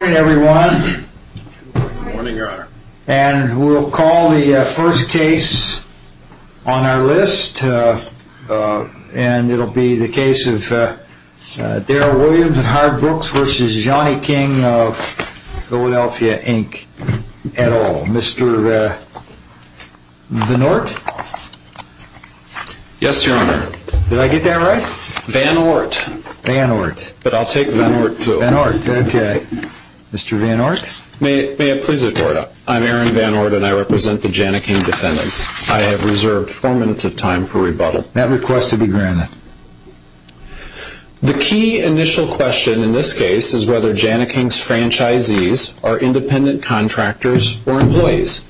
Good morning everyone. And we'll call the first case on our list and it'll be the case of Daryl Williams and Howard Brooks v. Jani-King of Philadelphia, Inc. et al. Mr. Vanort? Yes, Your Honor. Did I get that right? Vanort. Vanort. But I'll take Vanort, too. Vanort. Okay. Mr. Vanort? May it please the Court. I'm Aaron Vanort and I represent the Jani-King defendants. I have reserved four minutes of time for rebuttal. That request to be granted. The key initial question in this case is whether Jani-King's franchisees are independent contractors or employees.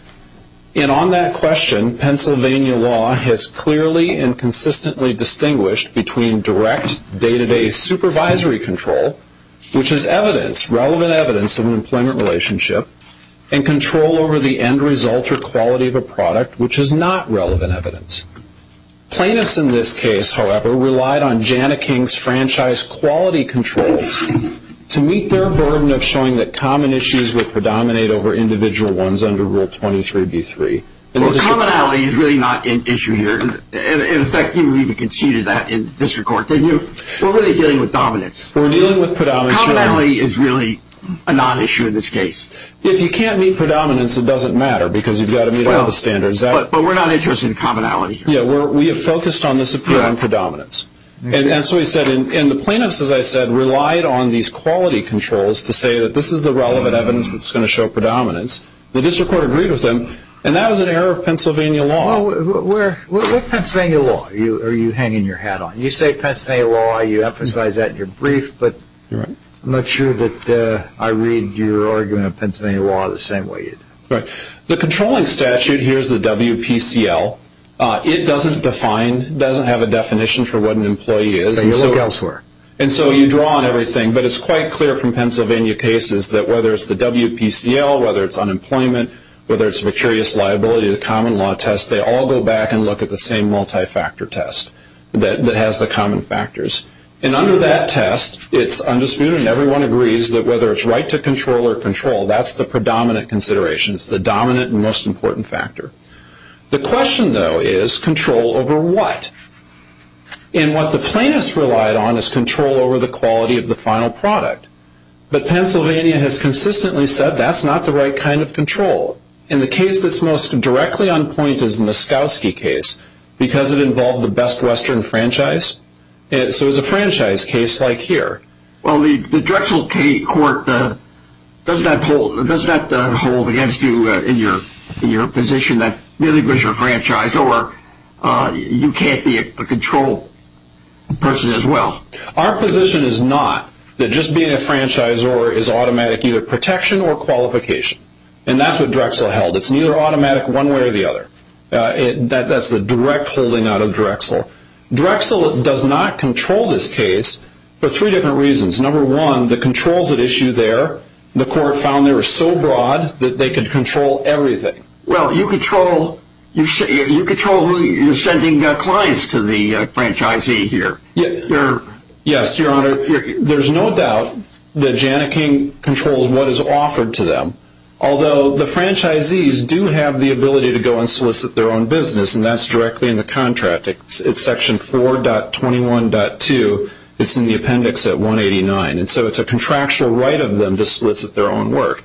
And on that question, Pennsylvania law has clearly and consistently distinguished between direct, day-to-day supervisory control, which is evidence, relevant evidence of an employment relationship, and control over the end result or quality of a product, which is not relevant evidence. Plaintiffs in this case, however, relied on Jani-King's franchise quality controls to meet their burden of showing that common issues would predominate over individual ones under Rule 23b-3. Well, commonality is really not an issue here. In effect, you even conceded that in district court. We're really dealing with dominance. We're dealing with predominance. Commonality is really a non-issue in this case. If you can't meet predominance, it doesn't matter because you've got to meet all the standards. But we're not interested in commonality here. Yeah, we have focused on this appeal on predominance. And so we said, and the plaintiffs, as I said, relied on these quality controls to say that this is the relevant evidence that's going to show predominance. The district court agreed with them, and that was an error of Pennsylvania law. What Pennsylvania law are you hanging your hat on? You say Pennsylvania law, you emphasize that in your brief, but I'm not sure that I read your argument of Pennsylvania law the same way you do. The controlling statute here is the WPCL. It doesn't define, doesn't have a definition for what an employee is. You look elsewhere. And so you draw on everything, but it's quite clear from Pennsylvania cases that whether it's the WPCL, whether it's unemployment, whether it's vicarious liability, the common law test, they all go back and look at the same multi-factor test that has the common factors. And under that test, it's undisputed and everyone agrees that whether it's right to control or control, that's the predominant consideration. It's the dominant and most important factor. The question, though, is control over what? And what the plaintiffs relied on is control over the quality of the final product. But Pennsylvania has consistently said that's not the right kind of control. And the case that's most directly on point is the Muskowski case because it involved the Best Western Franchise. So it's a franchise case like here. Well, the Drexel Court, does that hold against you in your position that really because you're a franchisor, you can't be a control person as well? Our position is not that just being a franchisor is automatic either protection or qualification. And that's what Drexel held. It's neither automatic one way or the other. That's the direct holding out of Drexel. Drexel does not control this case for three different reasons. Number one, the controls at issue there, the court found they were so broad that they could control everything. Well, you control who you're sending clients to the franchisee here. Yes, Your Honor. There's no doubt that Jana King controls what is offered to them. Although the franchisees do have the ability to go and solicit their own business, and that's directly in the contract. It's section 4.21.2. It's in the appendix at 189. And so it's a contractual right of them to solicit their own work.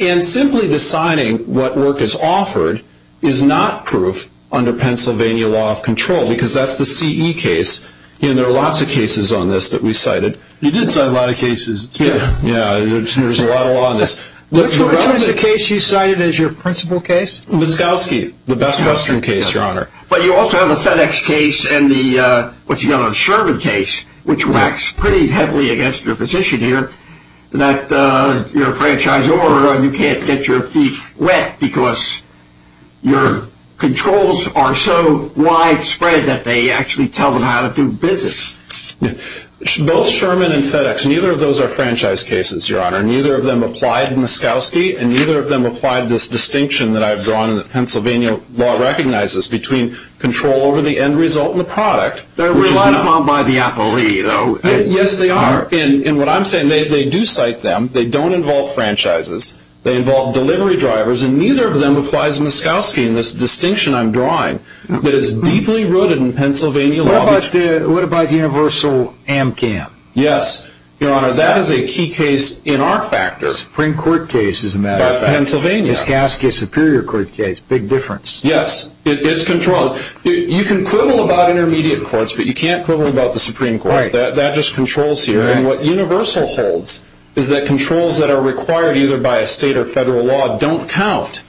And simply deciding what work is offered is not proof under Pennsylvania law of control because that's the CE case. There are lots of cases on this that we cited. You did cite a lot of cases. Yes. There's a lot of law on this. Which was the case you cited as your principal case? Muskowski. The best Western case, Your Honor. But you also have the FedEx case and the, what's he called, the Sherman case, which whacks pretty heavily against your position here that you're a franchisor and you can't get your feet wet because your controls are so widespread that they actually tell them how to do business. Both Sherman and FedEx, neither of those are franchise cases, Your Honor. Neither of them applied Muskowski and neither of them applied this distinction that I've drawn that Pennsylvania law recognizes between control over the end result and the product. They're relied upon by the appellee, though. Yes, they are. And what I'm saying, they do cite them. They don't involve franchises. They involve delivery drivers. And neither of them applies Muskowski in this distinction I'm drawing that is deeply rooted in Pennsylvania law. What about universal Amcam? Yes, Your Honor. Now, that is a key case in our factor. Supreme Court case, as a matter of fact. By Pennsylvania. Muskowski Superior Court case, big difference. Yes, it is controlled. You can quibble about intermediate courts, but you can't quibble about the Supreme Court. That just controls here. And what universal holds is that controls that are required either by a state or federal law don't count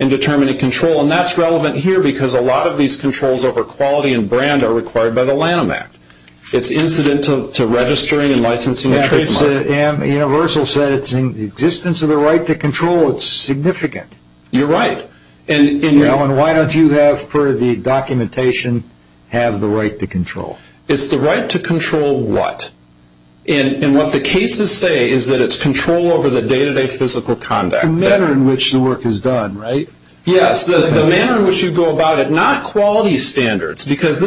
in determining control. And that's relevant here because a lot of these controls over quality and brand are required by the Lanham Act. It's incidental to registering and licensing a trademark. Universal said it's in the existence of the right to control. It's significant. You're right. And why don't you have, per the documentation, have the right to control? It's the right to control what? And what the cases say is that it's control over the day-to-day physical conduct. The manner in which the work is done, right? Yes, the manner in which you go about it. Not quality standards because,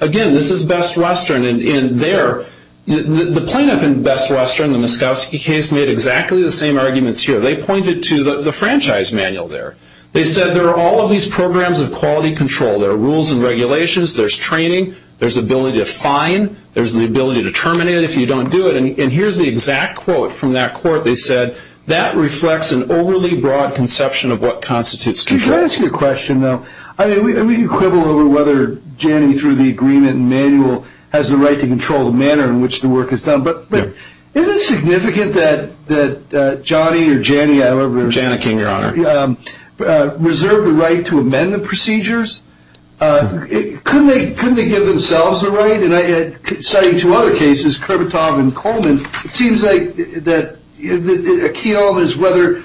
again, this is Best Western. And the plaintiff in Best Western, the Muskowski case, made exactly the same arguments here. They pointed to the franchise manual there. They said there are all of these programs of quality control. There are rules and regulations. There's training. There's the ability to fine. There's the ability to terminate if you don't do it. And here's the exact quote from that court. They said, that reflects an overly broad conception of what constitutes control. Can I ask you a question, though? I mean, we can quibble over whether Janney, through the agreement and manual, has the right to control the manner in which the work is done. But is it significant that Johnny or Janney, I don't remember. Jana King, Your Honor. Reserve the right to amend the procedures? Couldn't they give themselves the right? And I cited two other cases, Kurbatov and Coleman. It seems like a key element is whether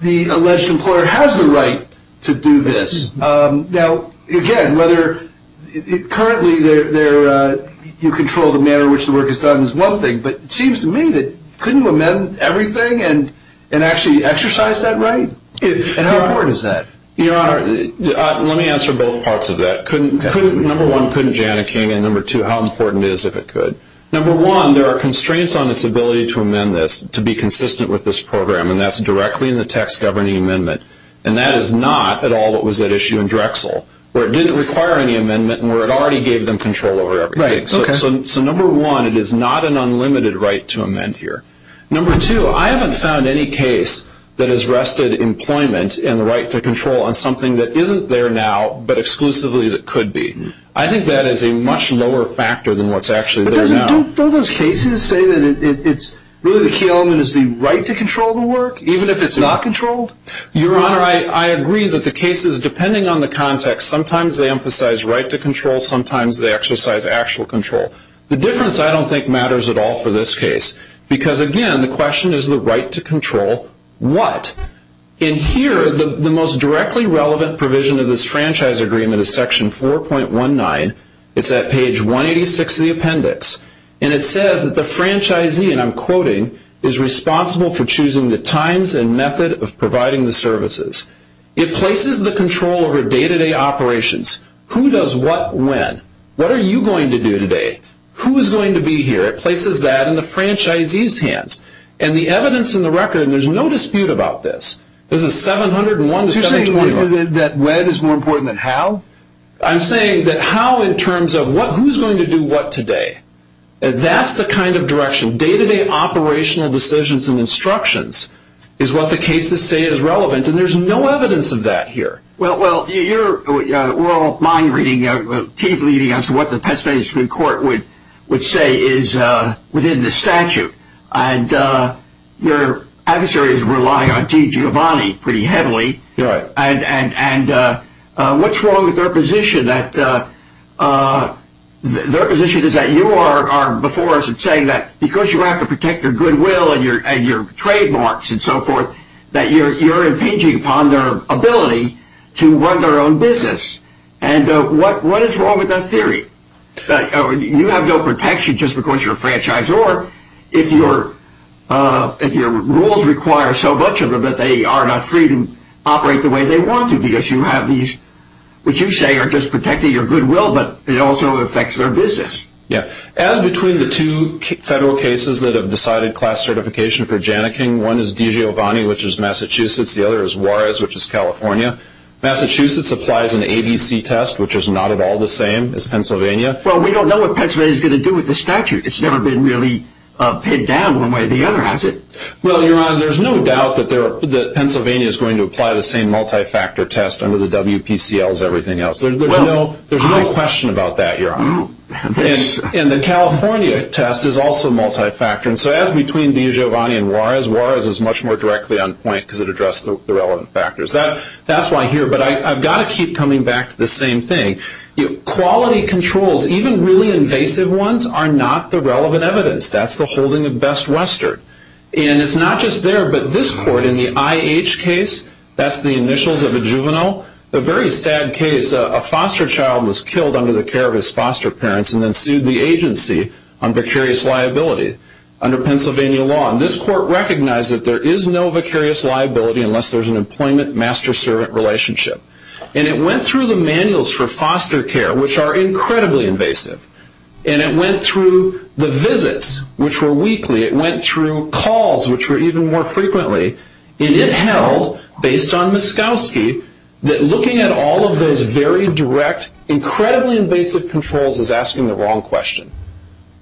the alleged employer has the right to do this. Now, again, whether currently you control the manner in which the work is done is one thing. But it seems to me that couldn't you amend everything and actually exercise that right? And how important is that? Your Honor, let me answer both parts of that. Number one, couldn't Jana King? And number two, how important is if it could? Number one, there are constraints on its ability to amend this to be consistent with this program, and that's directly in the tax governing amendment. And that is not at all what was at issue in Drexel, where it didn't require any amendment and where it already gave them control over everything. So number one, it is not an unlimited right to amend here. Number two, I haven't found any case that has rested employment and the right to control on something that isn't there now but exclusively that could be. I think that is a much lower factor than what's actually there now. But don't those cases say that it's really the key element is the right to control the work, even if it's not controlled? Your Honor, I agree that the cases, depending on the context, sometimes they emphasize right to control, sometimes they exercise actual control. The difference I don't think matters at all for this case. Because, again, the question is the right to control what? In here, the most directly relevant provision of this franchise agreement is section 4.19. It's at page 186 of the appendix. And it says that the franchisee, and I'm quoting, is responsible for choosing the times and method of providing the services. It places the control over day-to-day operations. Who does what when? What are you going to do today? Who is going to be here? It places that in the franchisee's hands. And the evidence in the record, and there's no dispute about this. This is 701 to 720. You're saying that when is more important than how? I'm saying that how in terms of who's going to do what today. That's the kind of direction. Day-to-day operational decisions and instructions is what the cases say is relevant. And there's no evidence of that here. Well, your oral mind reading, as to what the Pennsylvania Supreme Court would say is within the statute. And your adversaries rely on T. Giovanni pretty heavily. Right. And what's wrong with their position? Their position is that you are before us and saying that because you have to protect their goodwill and your trademarks and so forth, that you're impinging upon their ability to run their own business. And what is wrong with that theory? You have no protection just because you're a franchisor if your rules require so much of them that they are not free to operate the way they want to because you have these, which you say are just protecting your goodwill, but it also affects their business. Yeah. As between the two federal cases that have decided class certification for Janneking, one is T. Giovanni, which is Massachusetts. The other is Juarez, which is California. Massachusetts applies an ABC test, which is not at all the same as Pennsylvania. Well, we don't know what Pennsylvania is going to do with the statute. It's never been really pinned down one way or the other, has it? Well, Your Honor, there's no doubt that Pennsylvania is going to apply the same multi-factor test under the WPCL as everything else. There's no question about that, Your Honor. And the California test is also multi-factor. And so as between T. Giovanni and Juarez, Juarez is much more directly on point because it addressed the relevant factors. That's why here, but I've got to keep coming back to the same thing. Quality controls, even really invasive ones, are not the relevant evidence. That's the holding of Best Western. And it's not just there, but this court in the I.H. case, that's the initials of a juvenile. A very sad case, a foster child was killed under the care of his foster parents and then sued the agency on vicarious liability under Pennsylvania law. And this court recognized that there is no vicarious liability unless there's an employment master-servant relationship. And it went through the manuals for foster care, which are incredibly invasive. And it went through the visits, which were weekly. It went through calls, which were even more frequently. And it held, based on Muskowski, that looking at all of those very direct, incredibly invasive controls is asking the wrong question.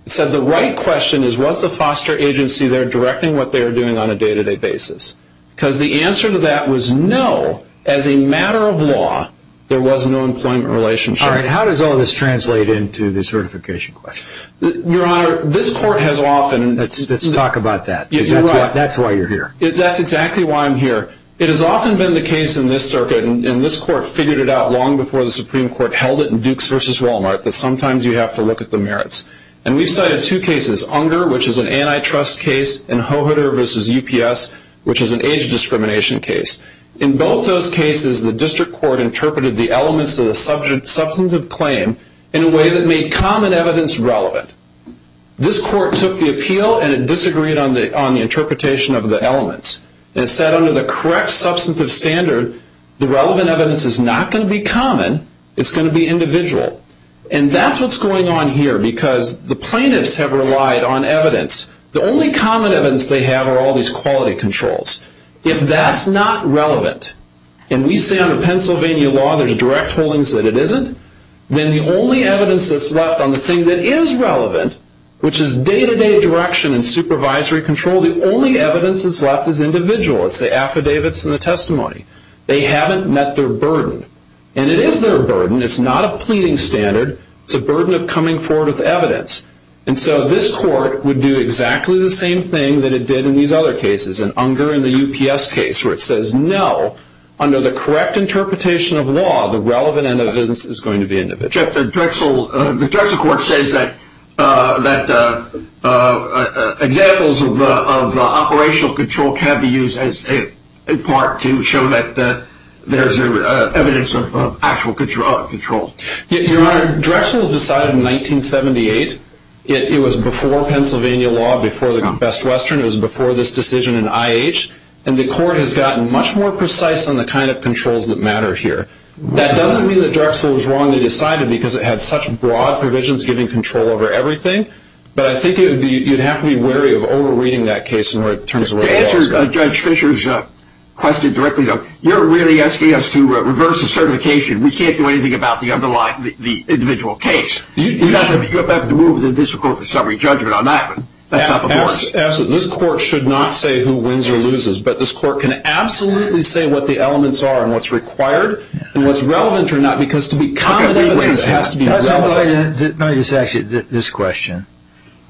It said the right question is, was the foster agency there directing what they were doing on a day-to-day basis? Because the answer to that was no. As a matter of law, there was no employment relationship. All right, how does all this translate into the certification question? Your Honor, this court has often... Let's talk about that because that's why you're here. That's exactly why I'm here. It has often been the case in this circuit, and this court figured it out long before the Supreme Court held it in Dukes v. Walmart, that sometimes you have to look at the merits. And we've cited two cases, Unger, which is an antitrust case, and Hoheter v. UPS, which is an age discrimination case. In both those cases, the district court interpreted the elements of the substantive claim in a way that made common evidence relevant. This court took the appeal, and it disagreed on the interpretation of the elements. And it said under the correct substantive standard, the relevant evidence is not going to be common. It's going to be individual. And that's what's going on here because the plaintiffs have relied on evidence. The only common evidence they have are all these quality controls. If that's not relevant, and we say under Pennsylvania law there's direct holdings that it isn't, then the only evidence that's left on the thing that is relevant, which is day-to-day direction and supervisory control, the only evidence that's left is individual. It's the affidavits and the testimony. They haven't met their burden. And it is their burden. It's not a pleading standard. It's a burden of coming forward with evidence. And so this court would do exactly the same thing that it did in these other cases, and Unger and the UPS case, where it says no, under the correct interpretation of law, the relevant evidence is going to be individual. The Drexel court says that examples of operational control can be used in part to show that there's evidence of actual control. Your Honor, Drexel was decided in 1978. It was before Pennsylvania law, before the Best Western. It was before this decision in IH. And the court has gotten much more precise on the kind of controls that matter here. That doesn't mean that Drexel was wrong to decide it because it had such broad provisions giving control over everything, but I think you'd have to be wary of over-reading that case in terms of where the laws go. To answer Judge Fischer's question directly, though, you're really asking us to reverse the certification. We can't do anything about the individual case. You'll have to move the district court for summary judgment on that, but that's not before us. Absolutely. This court should not say who wins or loses, but this court can absolutely say what the elements are and what's required and what's relevant or not because to be common evidence, it has to be relevant. Actually, this question.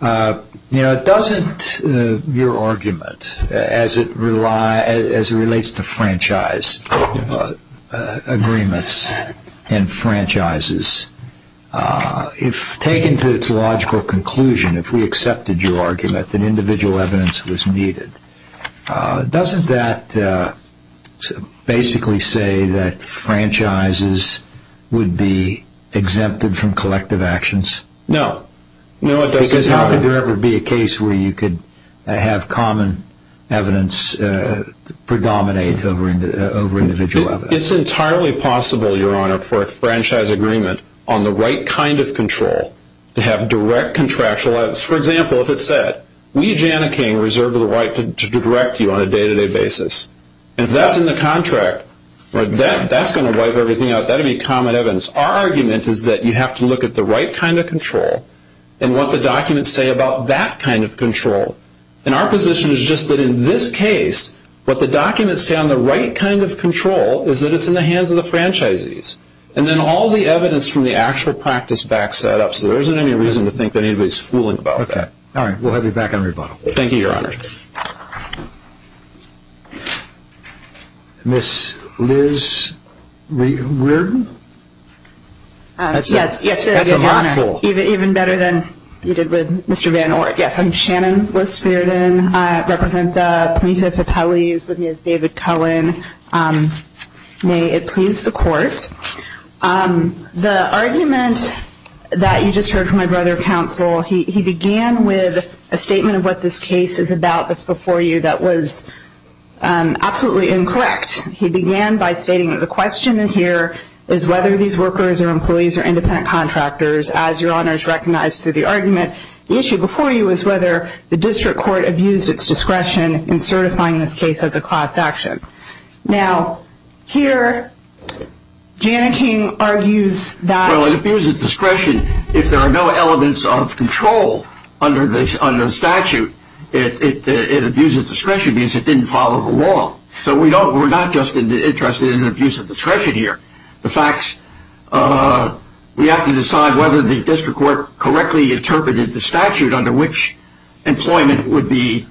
Doesn't your argument as it relates to franchise agreements and franchises, if taken to its logical conclusion, if we accepted your argument, that individual evidence was needed, doesn't that basically say that franchises would be exempted from collective actions? No. Because how could there ever be a case where you could have common evidence predominate over individual evidence? It's entirely possible, Your Honor, for a franchise agreement on the right kind of control to have direct contractual evidence. For example, if it said, we, Jana King, reserve the right to direct you on a day-to-day basis. If that's in the contract, that's going to wipe everything out. That would be common evidence. Our argument is that you have to look at the right kind of control and what the documents say about that kind of control. Our position is just that in this case, what the documents say on the right kind of control is that it's in the hands of the franchisees. Then all the evidence from the actual practice backs that up, so there isn't any reason to think that anybody's fooling about that. All right, we'll have you back on rebuttal. Thank you, Your Honor. Ms. Liz Reardon? Yes, Your Honor. That's a mouthful. Even better than you did with Mr. Van Orn. Yes, I'm Shannon Liz Reardon. I represent the Punita Papelis with Ms. David Cohen. May it please the Court. The argument that you just heard from my brother counsel, he began with a statement of what this case is about that's before you that was absolutely incorrect. He began by stating that the question in here is whether these workers or employees are independent contractors. As Your Honor has recognized through the argument, the issue before you is whether the district court abused its discretion in certifying this case as a class action. Now, here, Janneke argues that. Well, it abused its discretion. If there are no elements of control under the statute, it abused its discretion because it didn't follow the law. So we're not just interested in abuse of discretion here. The fact is we have to decide whether the district court correctly interpreted the statute under which employment would be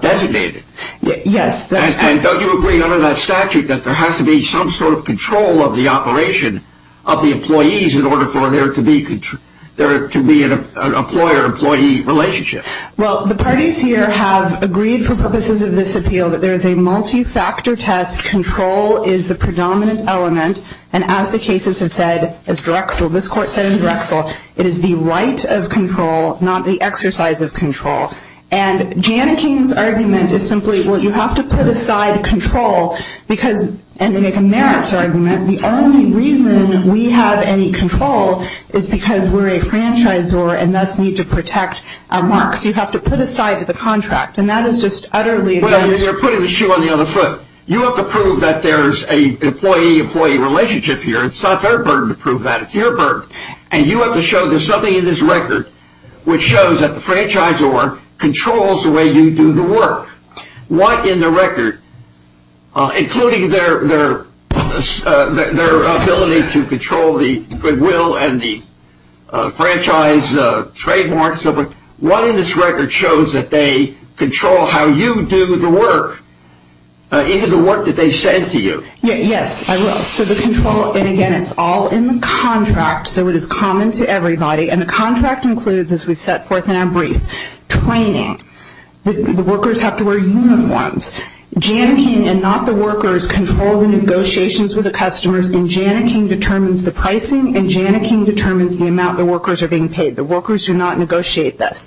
designated. Yes, that's correct. And don't you agree under that statute that there has to be some sort of control of the operation of the employees in order for there to be an employer-employee relationship? Well, the parties here have agreed for purposes of this appeal that there is a multi-factor test. Control is the predominant element. And as the cases have said, as Drexel, this Court said in Drexel, it is the right of control, not the exercise of control. And Janneke's argument is simply, well, you have to put aside control because they make a merits argument. The only reason we have any control is because we're a franchisor and thus need to protect our marks. You have to put aside the contract. And that is just utterly against the law. Well, you're putting the shoe on the other foot. You have to prove that there's an employee-employee relationship here. It's not their burden to prove that. It's your burden. And you have to show there's something in this record which shows that the franchisor controls the way you do the work. What in the record, including their ability to control the goodwill and the franchise trademarks, what in this record shows that they control how you do the work, even the work that they send to you? Yes, I will. So the control, and again, it's all in the contract. So it is common to everybody. And the contract includes, as we've set forth in our brief, training. The workers have to wear uniforms. Janneke and not the workers control the negotiations with the customers, and Janneke determines the pricing and Janneke determines the amount the workers are being paid. The workers do not negotiate this.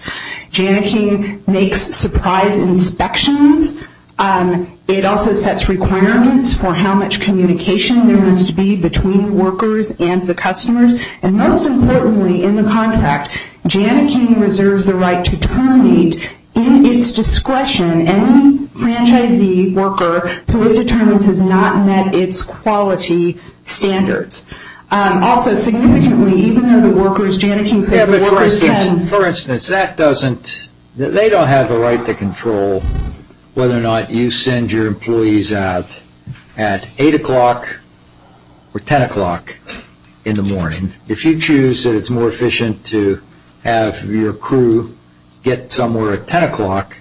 Janneke makes surprise inspections. It also sets requirements for how much communication there must be between the workers and the customers. And most importantly in the contract, Janneke reserves the right to terminate in its discretion any franchisee worker who it determines has not met its quality standards. Also, significantly, even though the workers, Janneke says the workers can. For instance, that doesn't, they don't have the right to control whether or not you send your employees out at 8 o'clock or 10 o'clock in the morning. If you choose that it's more efficient to have your crew get somewhere at 10 o'clock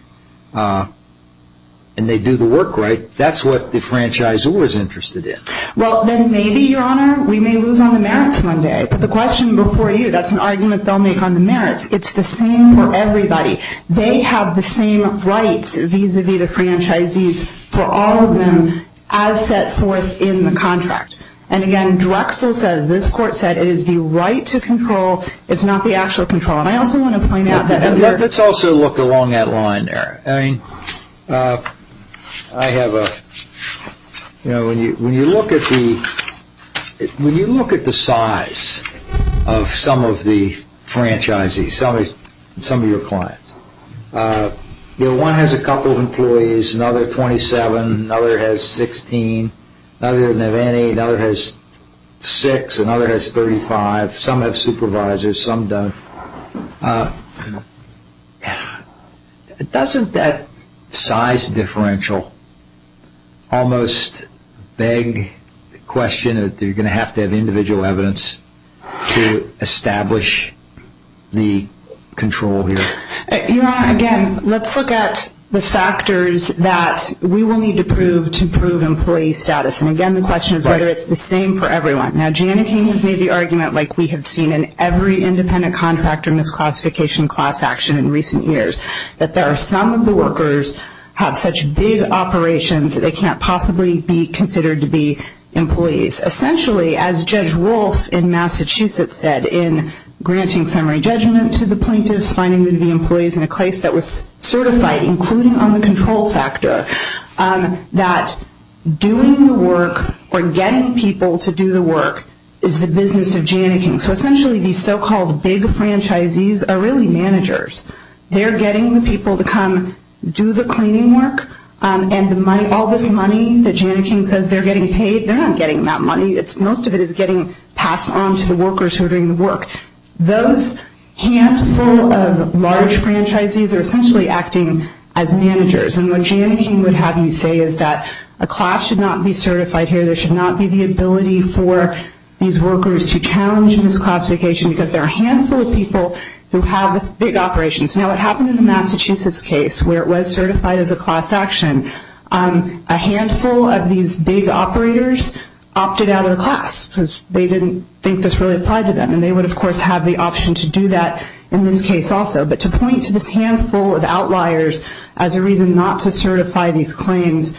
and they do the work right, that's what the franchisor is interested in. Well, then maybe, Your Honor, we may lose on the merits one day. But the question before you, that's an argument they'll make on the merits. It's the same for everybody. They have the same rights vis-à-vis the franchisees for all of them as set forth in the contract. And again, Drexel says this court said it is the right to control, it's not the actual control. And I also want to point out that under Let's also look along that line there. I mean, I have a, you know, when you look at the size of some of the franchisees, some of your clients, you know, one has a couple of employees, another 27, another has 16, another doesn't have any, another has 6, another has 35, some have supervisors, some don't. Doesn't that size differential almost beg the question that you're going to have to have individual evidence to establish the control here? Your Honor, again, let's look at the factors that we will need to prove to prove employee status. And again, the question is whether it's the same for everyone. Now, Jana King has made the argument like we have seen in every independent contract or misclassification class action in recent years, that there are some of the workers have such big operations that they can't possibly be considered to be employees. Essentially, as Judge Wolf in Massachusetts said in granting summary judgment to the plaintiffs, finding them to be employees in a case that was certified, including on the control factor, that doing the work or getting people to do the work is the business of Jana King. So essentially, these so-called big franchisees are really managers. They're getting the people to come do the cleaning work, and all this money that Jana King says they're getting paid, they're not getting that money. Most of it is getting passed on to the workers who are doing the work. Those handful of large franchisees are essentially acting as managers. And what Jana King would have you say is that a class should not be certified here. There should not be the ability for these workers to challenge misclassification because there are a handful of people who have big operations. Now, what happened in the Massachusetts case where it was certified as a class action, a handful of these big operators opted out of the class because they didn't think this really applied to them. And they would, of course, have the option to do that in this case also. But to point to this handful of outliers as a reason not to certify these claims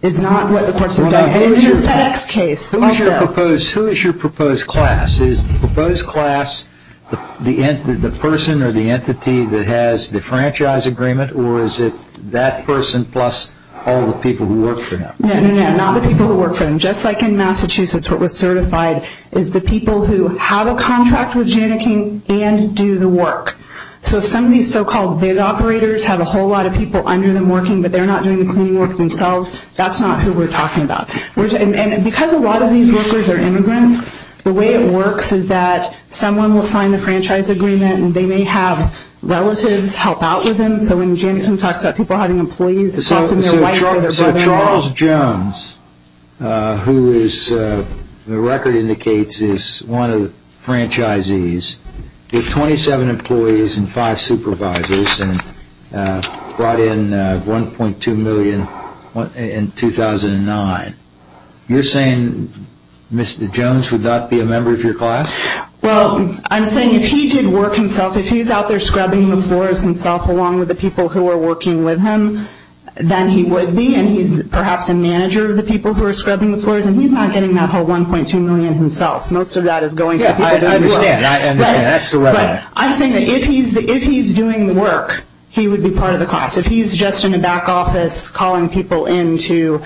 is not what the courts have done. In the FedEx case also. Who is your proposed class? Is the proposed class the person or the entity that has the franchise agreement, or is it that person plus all the people who work for them? No, no, no, not the people who work for them. Just like in Massachusetts what was certified is the people who have a contract with Jana King and do the work. So if some of these so-called big operators have a whole lot of people under them working but they're not doing the cleaning work themselves, that's not who we're talking about. And because a lot of these workers are immigrants, the way it works is that someone will sign the franchise agreement and they may have relatives help out with them. So when Jana King talks about people having employees, often their wife or their brother-in-law. So Charles Jones, who the record indicates is one of the franchisees, with 27 employees and five supervisors and brought in $1.2 million in 2009, you're saying Mr. Jones would not be a member of your class? Well, I'm saying if he did work himself, if he's out there scrubbing the floors himself along with the people who are working with him, then he would be and he's perhaps a manager of the people who are scrubbing the floors and he's not getting that whole $1.2 million himself. Most of that is going to people doing the work. Yeah, I understand. I understand. That's the way I hear it. But I'm saying that if he's doing the work, he would be part of the class. If he's just in a back office calling people in to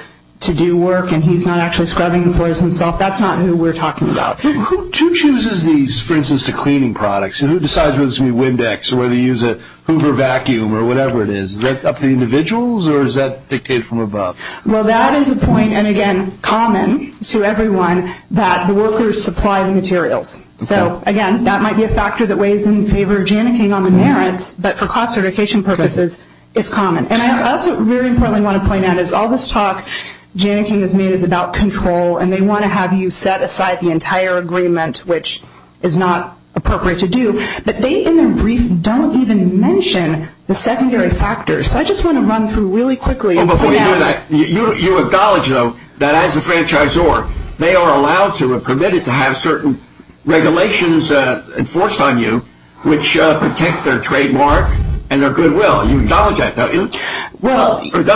do work and he's not actually scrubbing the floors himself, that's not who we're talking about. Who chooses these, for instance, to cleaning products? Who decides whether to use Windex or whether to use a Hoover vacuum or whatever it is? Is that up to the individuals or is that dictated from above? Well, that is a point, and again, common to everyone, that the workers supply the materials. So again, that might be a factor that weighs in favor of Janneking on the merits, but for cost eradication purposes, it's common. And I also really importantly want to point out is all this talk Janneking has made is about control and they want to have you set aside the entire agreement, which is not appropriate to do. But they, in their brief, don't even mention the secondary factors. So I just want to run through really quickly. Before you do that, you acknowledge, though, that as a franchisor, they are allowed to or permitted to have certain regulations enforced on you which protect their trademark and their goodwill. You acknowledge that, don't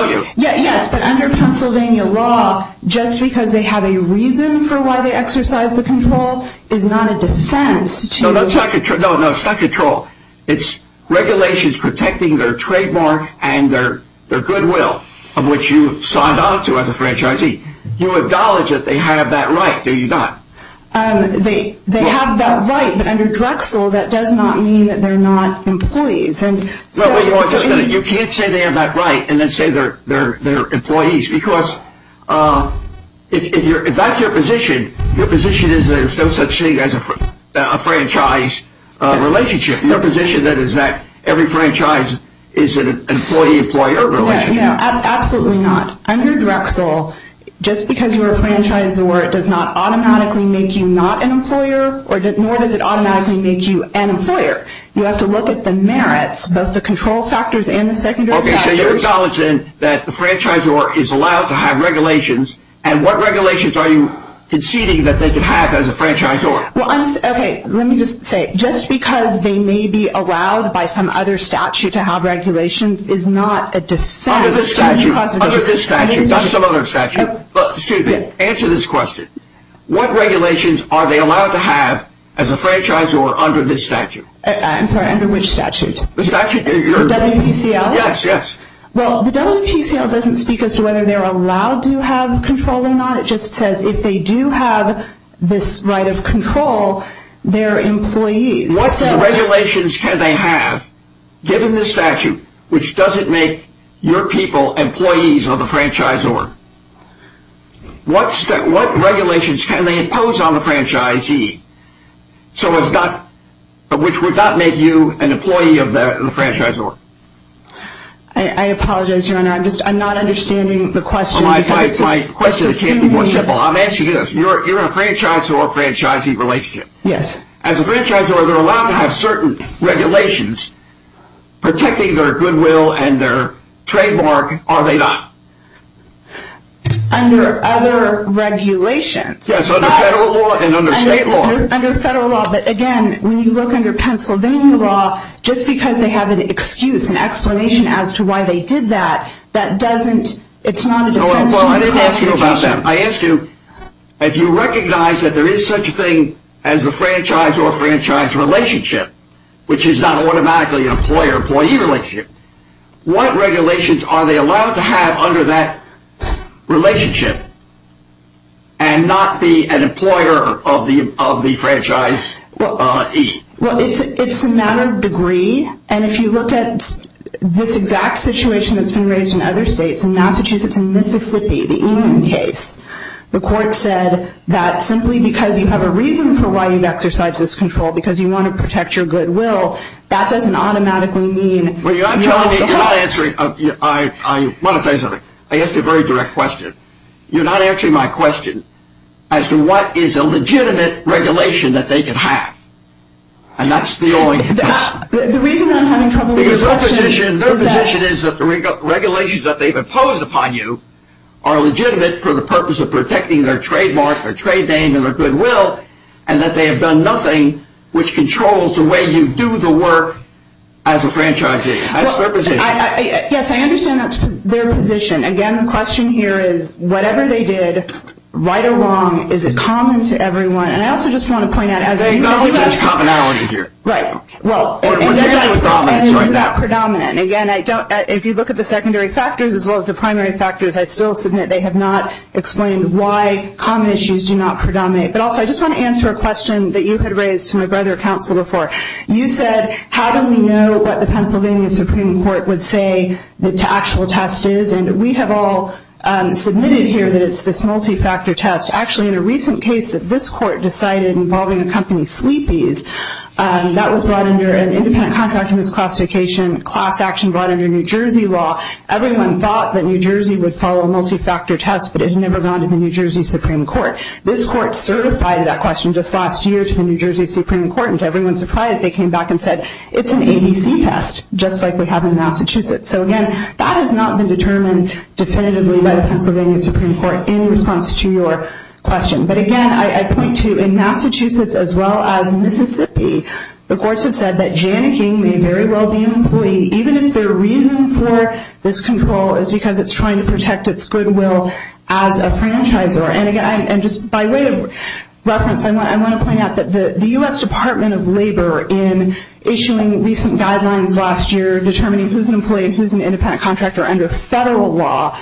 you? Yes, but under Pennsylvania law, just because they have a reason for why they exercise the control is not a defense. No, it's not control. It's regulations protecting their trademark and their goodwill, of which you signed on to as a franchisee. You acknowledge that they have that right, do you not? They have that right, but under Drexel, that does not mean that they're not employees. You can't say they have that right and then say they're employees because if that's your position, your position is that there's no such thing as a franchise relationship. Your position is that every franchise is an employee-employer relationship. Absolutely not. Under Drexel, just because you're a franchisor does not automatically make you not an employer nor does it automatically make you an employer. You have to look at the merits, both the control factors and the secondary factors. Okay, so you're acknowledging that the franchisor is allowed to have regulations and what regulations are you conceding that they could have as a franchisor? Okay, let me just say, just because they may be allowed by some other statute to have regulations is not a defense. Under this statute, not some other statute. Excuse me, answer this question. What regulations are they allowed to have as a franchisor under this statute? I'm sorry, under which statute? The WPCL? Yes, yes. Well, the WPCL doesn't speak as to whether they're allowed to have control or not. It just says if they do have this right of control, they're employees. What regulations can they have, given this statute, which doesn't make your people employees of the franchisor? What regulations can they impose on the franchisee, which would not make you an employee of the franchisor? I apologize, Your Honor. I'm not understanding the question. My question can't be more simple. I'm asking you this. You're in a franchisor-franchisee relationship. Yes. As a franchisor, are they allowed to have certain regulations protecting their goodwill and their trademark, or are they not? Under other regulations. Yes, under federal law and under state law. Under federal law, but again, when you look under Pennsylvania law, just because they have an excuse, an explanation as to why they did that, that doesn't, it's not a defense to this prosecution. I ask you about that. I ask you, if you recognize that there is such a thing as the franchise or franchise relationship, which is not automatically an employer-employee relationship, what regulations are they allowed to have under that relationship and not be an employer of the franchisee? Well, it's a matter of degree, and if you look at this exact situation that's been raised in other states, in Massachusetts and Mississippi, the Enum case, the court said that simply because you have a reason for why you'd exercise this control, because you want to protect your goodwill, that doesn't automatically mean... Well, you're not telling me, you're not answering, I want to tell you something. I asked a very direct question. You're not answering my question as to what is a legitimate regulation that they can have, and that's the only... The reason I'm having trouble with your question... Because their position is that the regulations that they've imposed upon you are legitimate for the purpose of protecting their trademark, their trade name, and their goodwill, and that they have done nothing which controls the way you do the work as a franchisee. That's their position. Yes, I understand that's their position. Again, the question here is, whatever they did, right or wrong, is it common to everyone? And I also just want to point out... There's commonality here. Right. And is that predominant? Again, if you look at the secondary factors as well as the primary factors, I still submit they have not explained why common issues do not predominate. But also, I just want to answer a question that you had raised to my brother, counsel, before. You said, how do we know what the Pennsylvania Supreme Court would say the actual test is? And we have all submitted here that it's this multi-factor test. Actually, in a recent case that this court decided involving a company, Sleepy's, that was brought under an independent contract of misclassification, class action brought under New Jersey law. Everyone thought that New Jersey would follow a multi-factor test, but it had never gone to the New Jersey Supreme Court. This court certified that question just last year to the New Jersey Supreme Court. And to everyone's surprise, they came back and said, it's an ABC test, just like we have in Massachusetts. So again, that has not been determined definitively by the Pennsylvania Supreme Court in response to your question. But again, I point to, in Massachusetts as well as Mississippi, the courts have said that Janneking may very well be an employee, even if their reason for this control is because it's trying to protect its goodwill as a franchisor. And just by way of reference, I want to point out that the U.S. Department of Labor, in issuing recent guidelines last year determining who's an employee and who's an independent contractor under federal law,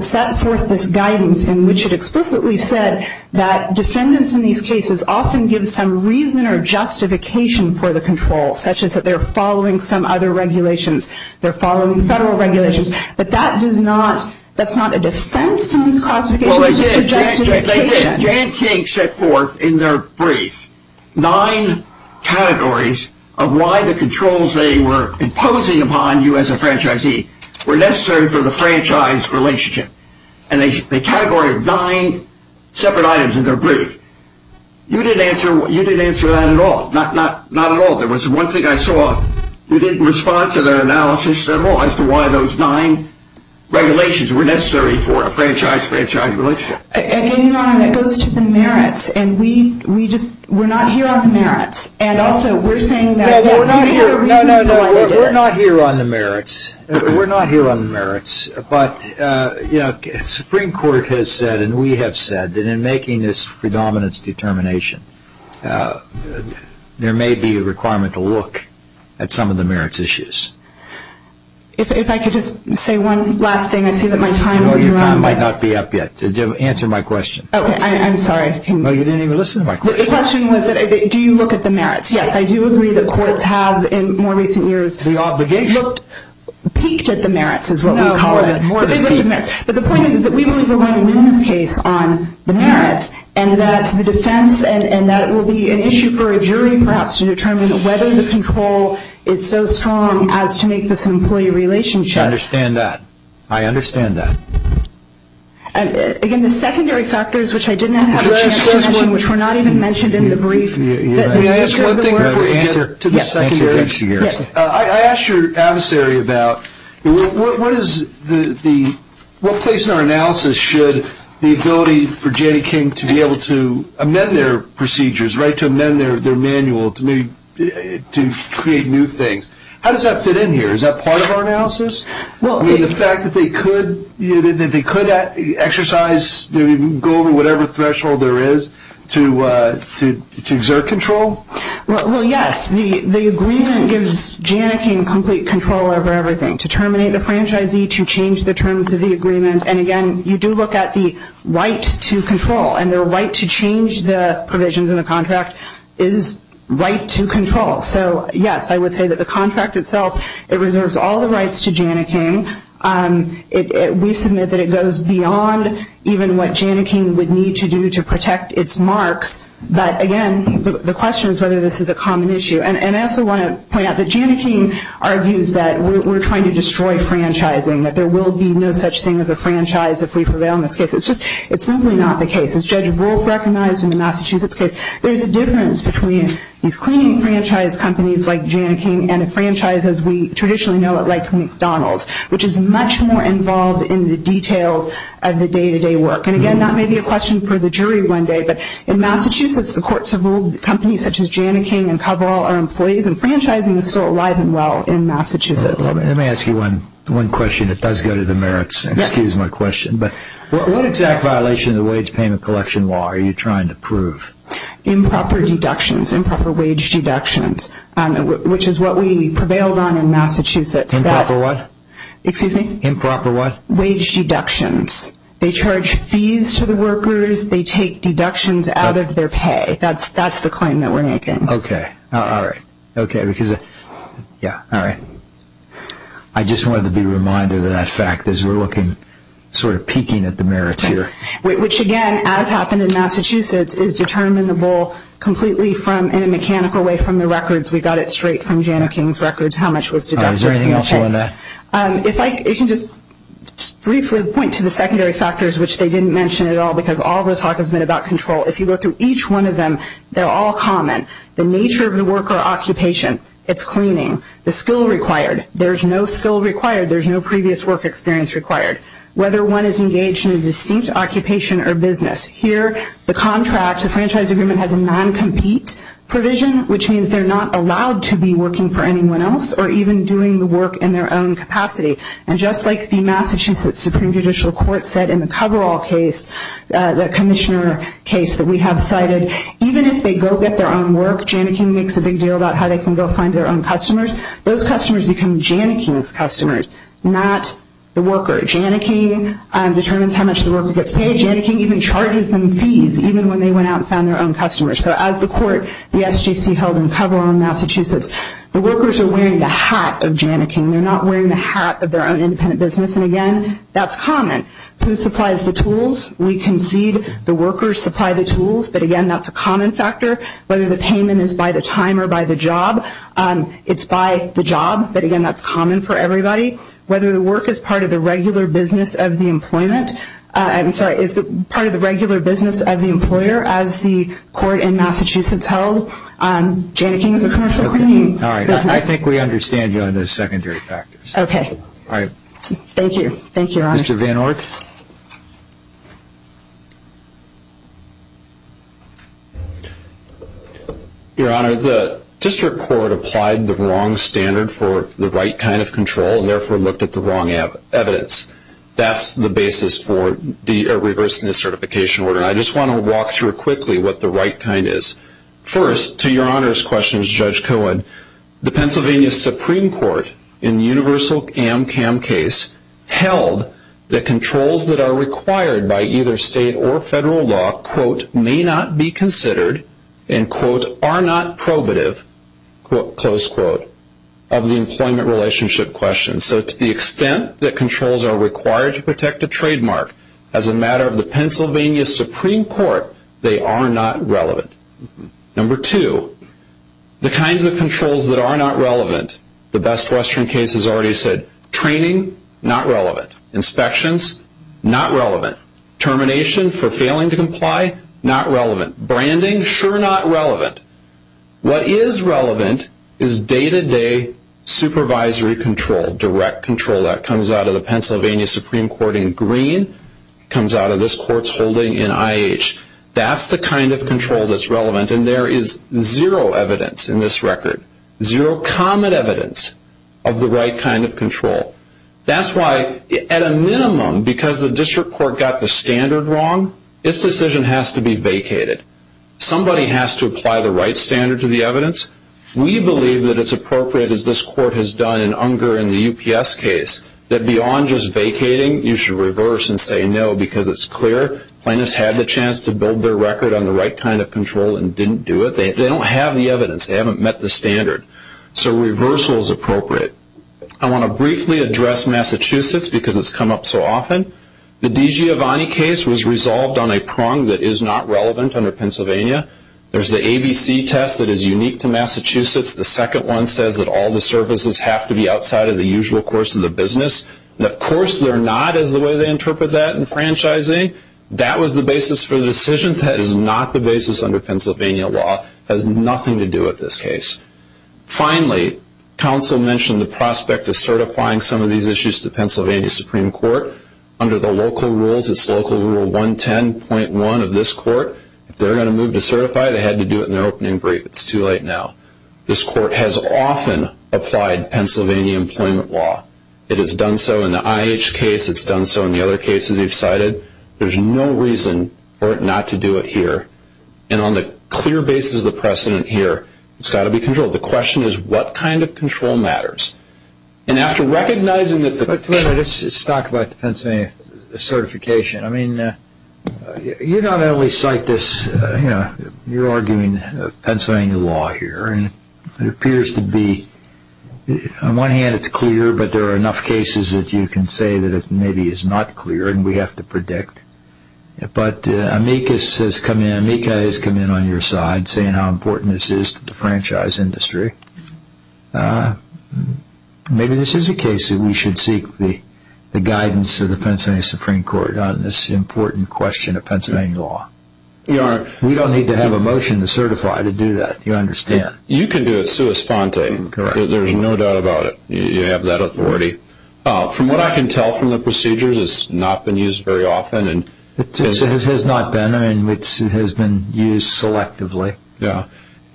set forth this guidance in which it explicitly said that defendants in these cases often give some reason or justification for the control, such as that they're following some other regulations. They're following federal regulations. But that's not a defense to these classifications. It's just a justification. Well, they did. Janneking set forth in their brief nine categories of why the controls they were imposing upon you as a franchisee were necessary for the franchise relationship. And they categorized nine separate items in their brief. You didn't answer that at all. Not at all. There was one thing I saw. You didn't respond to their analysis at all as to why those nine regulations were necessary for a franchise-franchise relationship. Again, Your Honor, that goes to the merits. And we just were not here on the merits. And also we're saying that there's no reason for why you did it. No, no, no. We're not here on the merits. We're not here on the merits. But, you know, Supreme Court has said and we have said that in making this predominance determination, there may be a requirement to look at some of the merits issues. If I could just say one last thing. I see that my time has run out. No, your time might not be up yet. Answer my question. Oh, I'm sorry. No, you didn't even listen to my question. The question was, do you look at the merits? Yes, I do agree that courts have in more recent years. The obligation. Peaked at the merits is what we call it. No, more than peaked at the merits. But the point is that we believe we're going to win this case on the merits and that the defense and that will be an issue for a jury perhaps to determine whether the control is so strong as to make this an employee relationship. I understand that. I understand that. Again, the secondary factors, which I didn't have a chance to mention, which were not even mentioned in the brief. May I ask one thing before we get to the secondary issues? Yes. I asked your adversary about what place in our analysis should the ability for Janne King to be able to amend their procedures, to amend their manual to create new things. How does that fit in here? Is that part of our analysis? The fact that they could exercise, go over whatever threshold there is to exert control? Well, yes. The agreement gives Janne King complete control over everything, to terminate the franchisee, to change the terms of the agreement. And, again, you do look at the right to control. And their right to change the provisions in the contract is right to control. So, yes, I would say that the contract itself, it reserves all the rights to Janne King. We submit that it goes beyond even what Janne King would need to do to protect its marks. But, again, the question is whether this is a common issue. And I also want to point out that Janne King argues that we're trying to destroy franchising, that there will be no such thing as a franchise if we prevail in this case. It's just, it's simply not the case. As Judge Wolf recognized in the Massachusetts case, there's a difference between these cleaning franchise companies like Janne King and a franchise as we traditionally know it like McDonald's, which is much more involved in the details of the day-to-day work. And, again, that may be a question for the jury one day. But in Massachusetts, the courts have ruled that companies such as Janne King and Coverall are employees and franchising is still alive and well in Massachusetts. Let me ask you one question that does go to the merits. Excuse my question. But what exact violation of the wage payment collection law are you trying to prove? Improper deductions, improper wage deductions, which is what we prevailed on in Massachusetts. Improper what? Excuse me? Improper what? Wage deductions. They charge fees to the workers. They take deductions out of their pay. That's the claim that we're making. Okay. All right. Okay, because, yeah, all right. I just wanted to be reminded of that fact as we're looking, sort of peeking at the merits here. Which, again, as happened in Massachusetts, is determinable completely from, in a mechanical way, from the records. We got it straight from Janne King's records how much was deducted from the pay. Is there anything else on that? If I can just briefly point to the secondary factors, which they didn't mention at all, because all of the talk has been about control. If you go through each one of them, they're all common. The nature of the worker occupation, its cleaning, the skill required. There's no skill required. There's no previous work experience required. Whether one is engaged in a distinct occupation or business. Here the contract, the franchise agreement, has a non-compete provision, which means they're not allowed to be working for anyone else or even doing the work in their own capacity. And just like the Massachusetts Supreme Judicial Court said in the coverall case, the commissioner case that we have cited, even if they go get their own work, Janne King makes a big deal about how they can go find their own customers. Those customers become Janne King's customers, not the worker. Janne King determines how much the worker gets paid. Janne King even charges them fees even when they went out and found their own customers. So as the court, the SGC held in coverall in Massachusetts, the workers are wearing the hat of Janne King. They're not wearing the hat of their own independent business. And, again, that's common. Who supplies the tools? We concede the workers supply the tools, but, again, that's a common factor. Whether the payment is by the time or by the job, it's by the job. But, again, that's common for everybody. Whether the work is part of the regular business of the employer as the court in Massachusetts held, Janne King is a commercial cleaning business. All right. I think we understand you on the secondary factors. Okay. All right. Thank you. Thank you, Your Honor. Mr. Van Ork? Your Honor, the district court applied the wrong standard for the right kind of control and, therefore, looked at the wrong evidence. That's the basis for reversing the certification order. I just want to walk through quickly what the right kind is. First, to Your Honor's questions, Judge Cohen, the Pennsylvania Supreme Court in the universal AMCAM case held that controls that are required by either state or federal law, quote, may not be considered, end quote, are not probative, close quote, of the employment relationship question. So to the extent that controls are required to protect a trademark, as a matter of the Pennsylvania Supreme Court, they are not relevant. Number two, the kinds of controls that are not relevant, the Best Western case has already said, training, not relevant. Inspections, not relevant. Termination for failing to comply, not relevant. Branding, sure not relevant. What is relevant is day-to-day supervisory control, direct control. That comes out of the Pennsylvania Supreme Court in Green. It comes out of this Court's holding in IH. That's the kind of control that's relevant, and there is zero evidence in this record, zero common evidence of the right kind of control. That's why, at a minimum, because the district court got the standard wrong, its decision has to be vacated. Somebody has to apply the right standard to the evidence. We believe that it's appropriate, as this Court has done in Unger and the UPS case, that beyond just vacating, you should reverse and say no because it's clear. Plaintiffs had the chance to build their record on the right kind of control and didn't do it. They don't have the evidence. They haven't met the standard. So reversal is appropriate. I want to briefly address Massachusetts because it's come up so often. The DiGiovanni case was resolved on a prong that is not relevant under Pennsylvania. There's the ABC test that is unique to Massachusetts. The second one says that all the services have to be outside of the usual course of the business. And, of course, they're not is the way they interpret that in franchising. That was the basis for the decision. That is not the basis under Pennsylvania law. It has nothing to do with this case. Finally, counsel mentioned the prospect of certifying some of these issues to Pennsylvania Supreme Court. Under the local rules, it's Local Rule 110.1 of this Court. If they're going to move to certify, they had to do it in their opening brief. It's too late now. This Court has often applied Pennsylvania employment law. It has done so in the IH case. It's done so in the other cases you've cited. There's no reason for it not to do it here. And on the clear basis of the precedent here, it's got to be controlled. The question is what kind of control matters. And after recognizing that the Let's talk about the Pennsylvania certification. I mean, you not only cite this, you know, you're arguing Pennsylvania law here. And it appears to be, on one hand, it's clear, but there are enough cases that you can say that it maybe is not clear and we have to predict. But amicus has come in, amica has come in on your side, saying how important this is to the franchise industry. Maybe this is a case that we should seek the guidance of the Pennsylvania Supreme Court on this important question of Pennsylvania law. We don't need to have a motion to certify to do that. You understand. You can do it sua sponte. There's no doubt about it. You have that authority. From what I can tell from the procedures, it's not been used very often. It has not been. I mean, it has been used selectively. Yeah.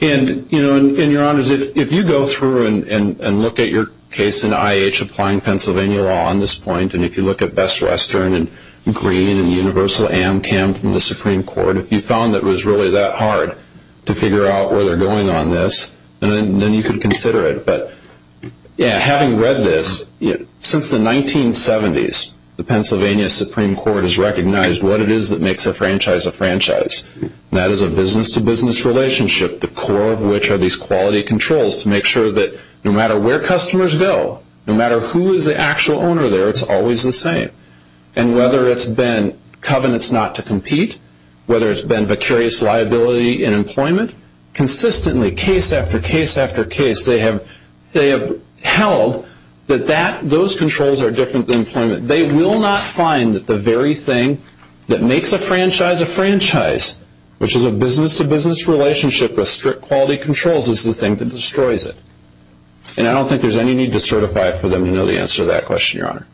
And, you know, and your honors, if you go through and look at your case in IH applying Pennsylvania law on this point, and if you look at Best Western and Green and Universal Amcam from the Supreme Court, if you found that it was really that hard to figure out where they're going on this, then you can consider it. But, yeah, having read this, since the 1970s, that is a business-to-business relationship, the core of which are these quality controls to make sure that no matter where customers go, no matter who is the actual owner there, it's always the same. And whether it's been covenants not to compete, whether it's been vicarious liability in employment, consistently, case after case after case, they have held that those controls are different than employment. They will not find that the very thing that makes a franchise a franchise, which is a business-to-business relationship with strict quality controls, is the thing that destroys it. And I don't think there's any need to certify it for them to know the answer to that question, Your Honor.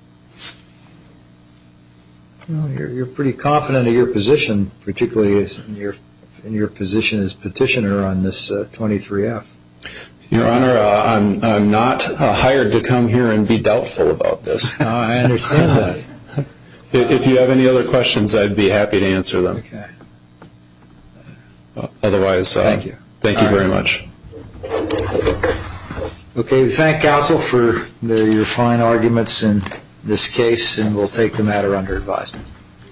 You're pretty confident of your position, particularly in your position as petitioner on this 23-F. Your Honor, I'm not hired to come here and be doubtful about this. I understand that. If you have any other questions, I'd be happy to answer them. Otherwise, thank you very much. Okay. We thank counsel for your fine arguments in this case, and we'll take the matter under advisement.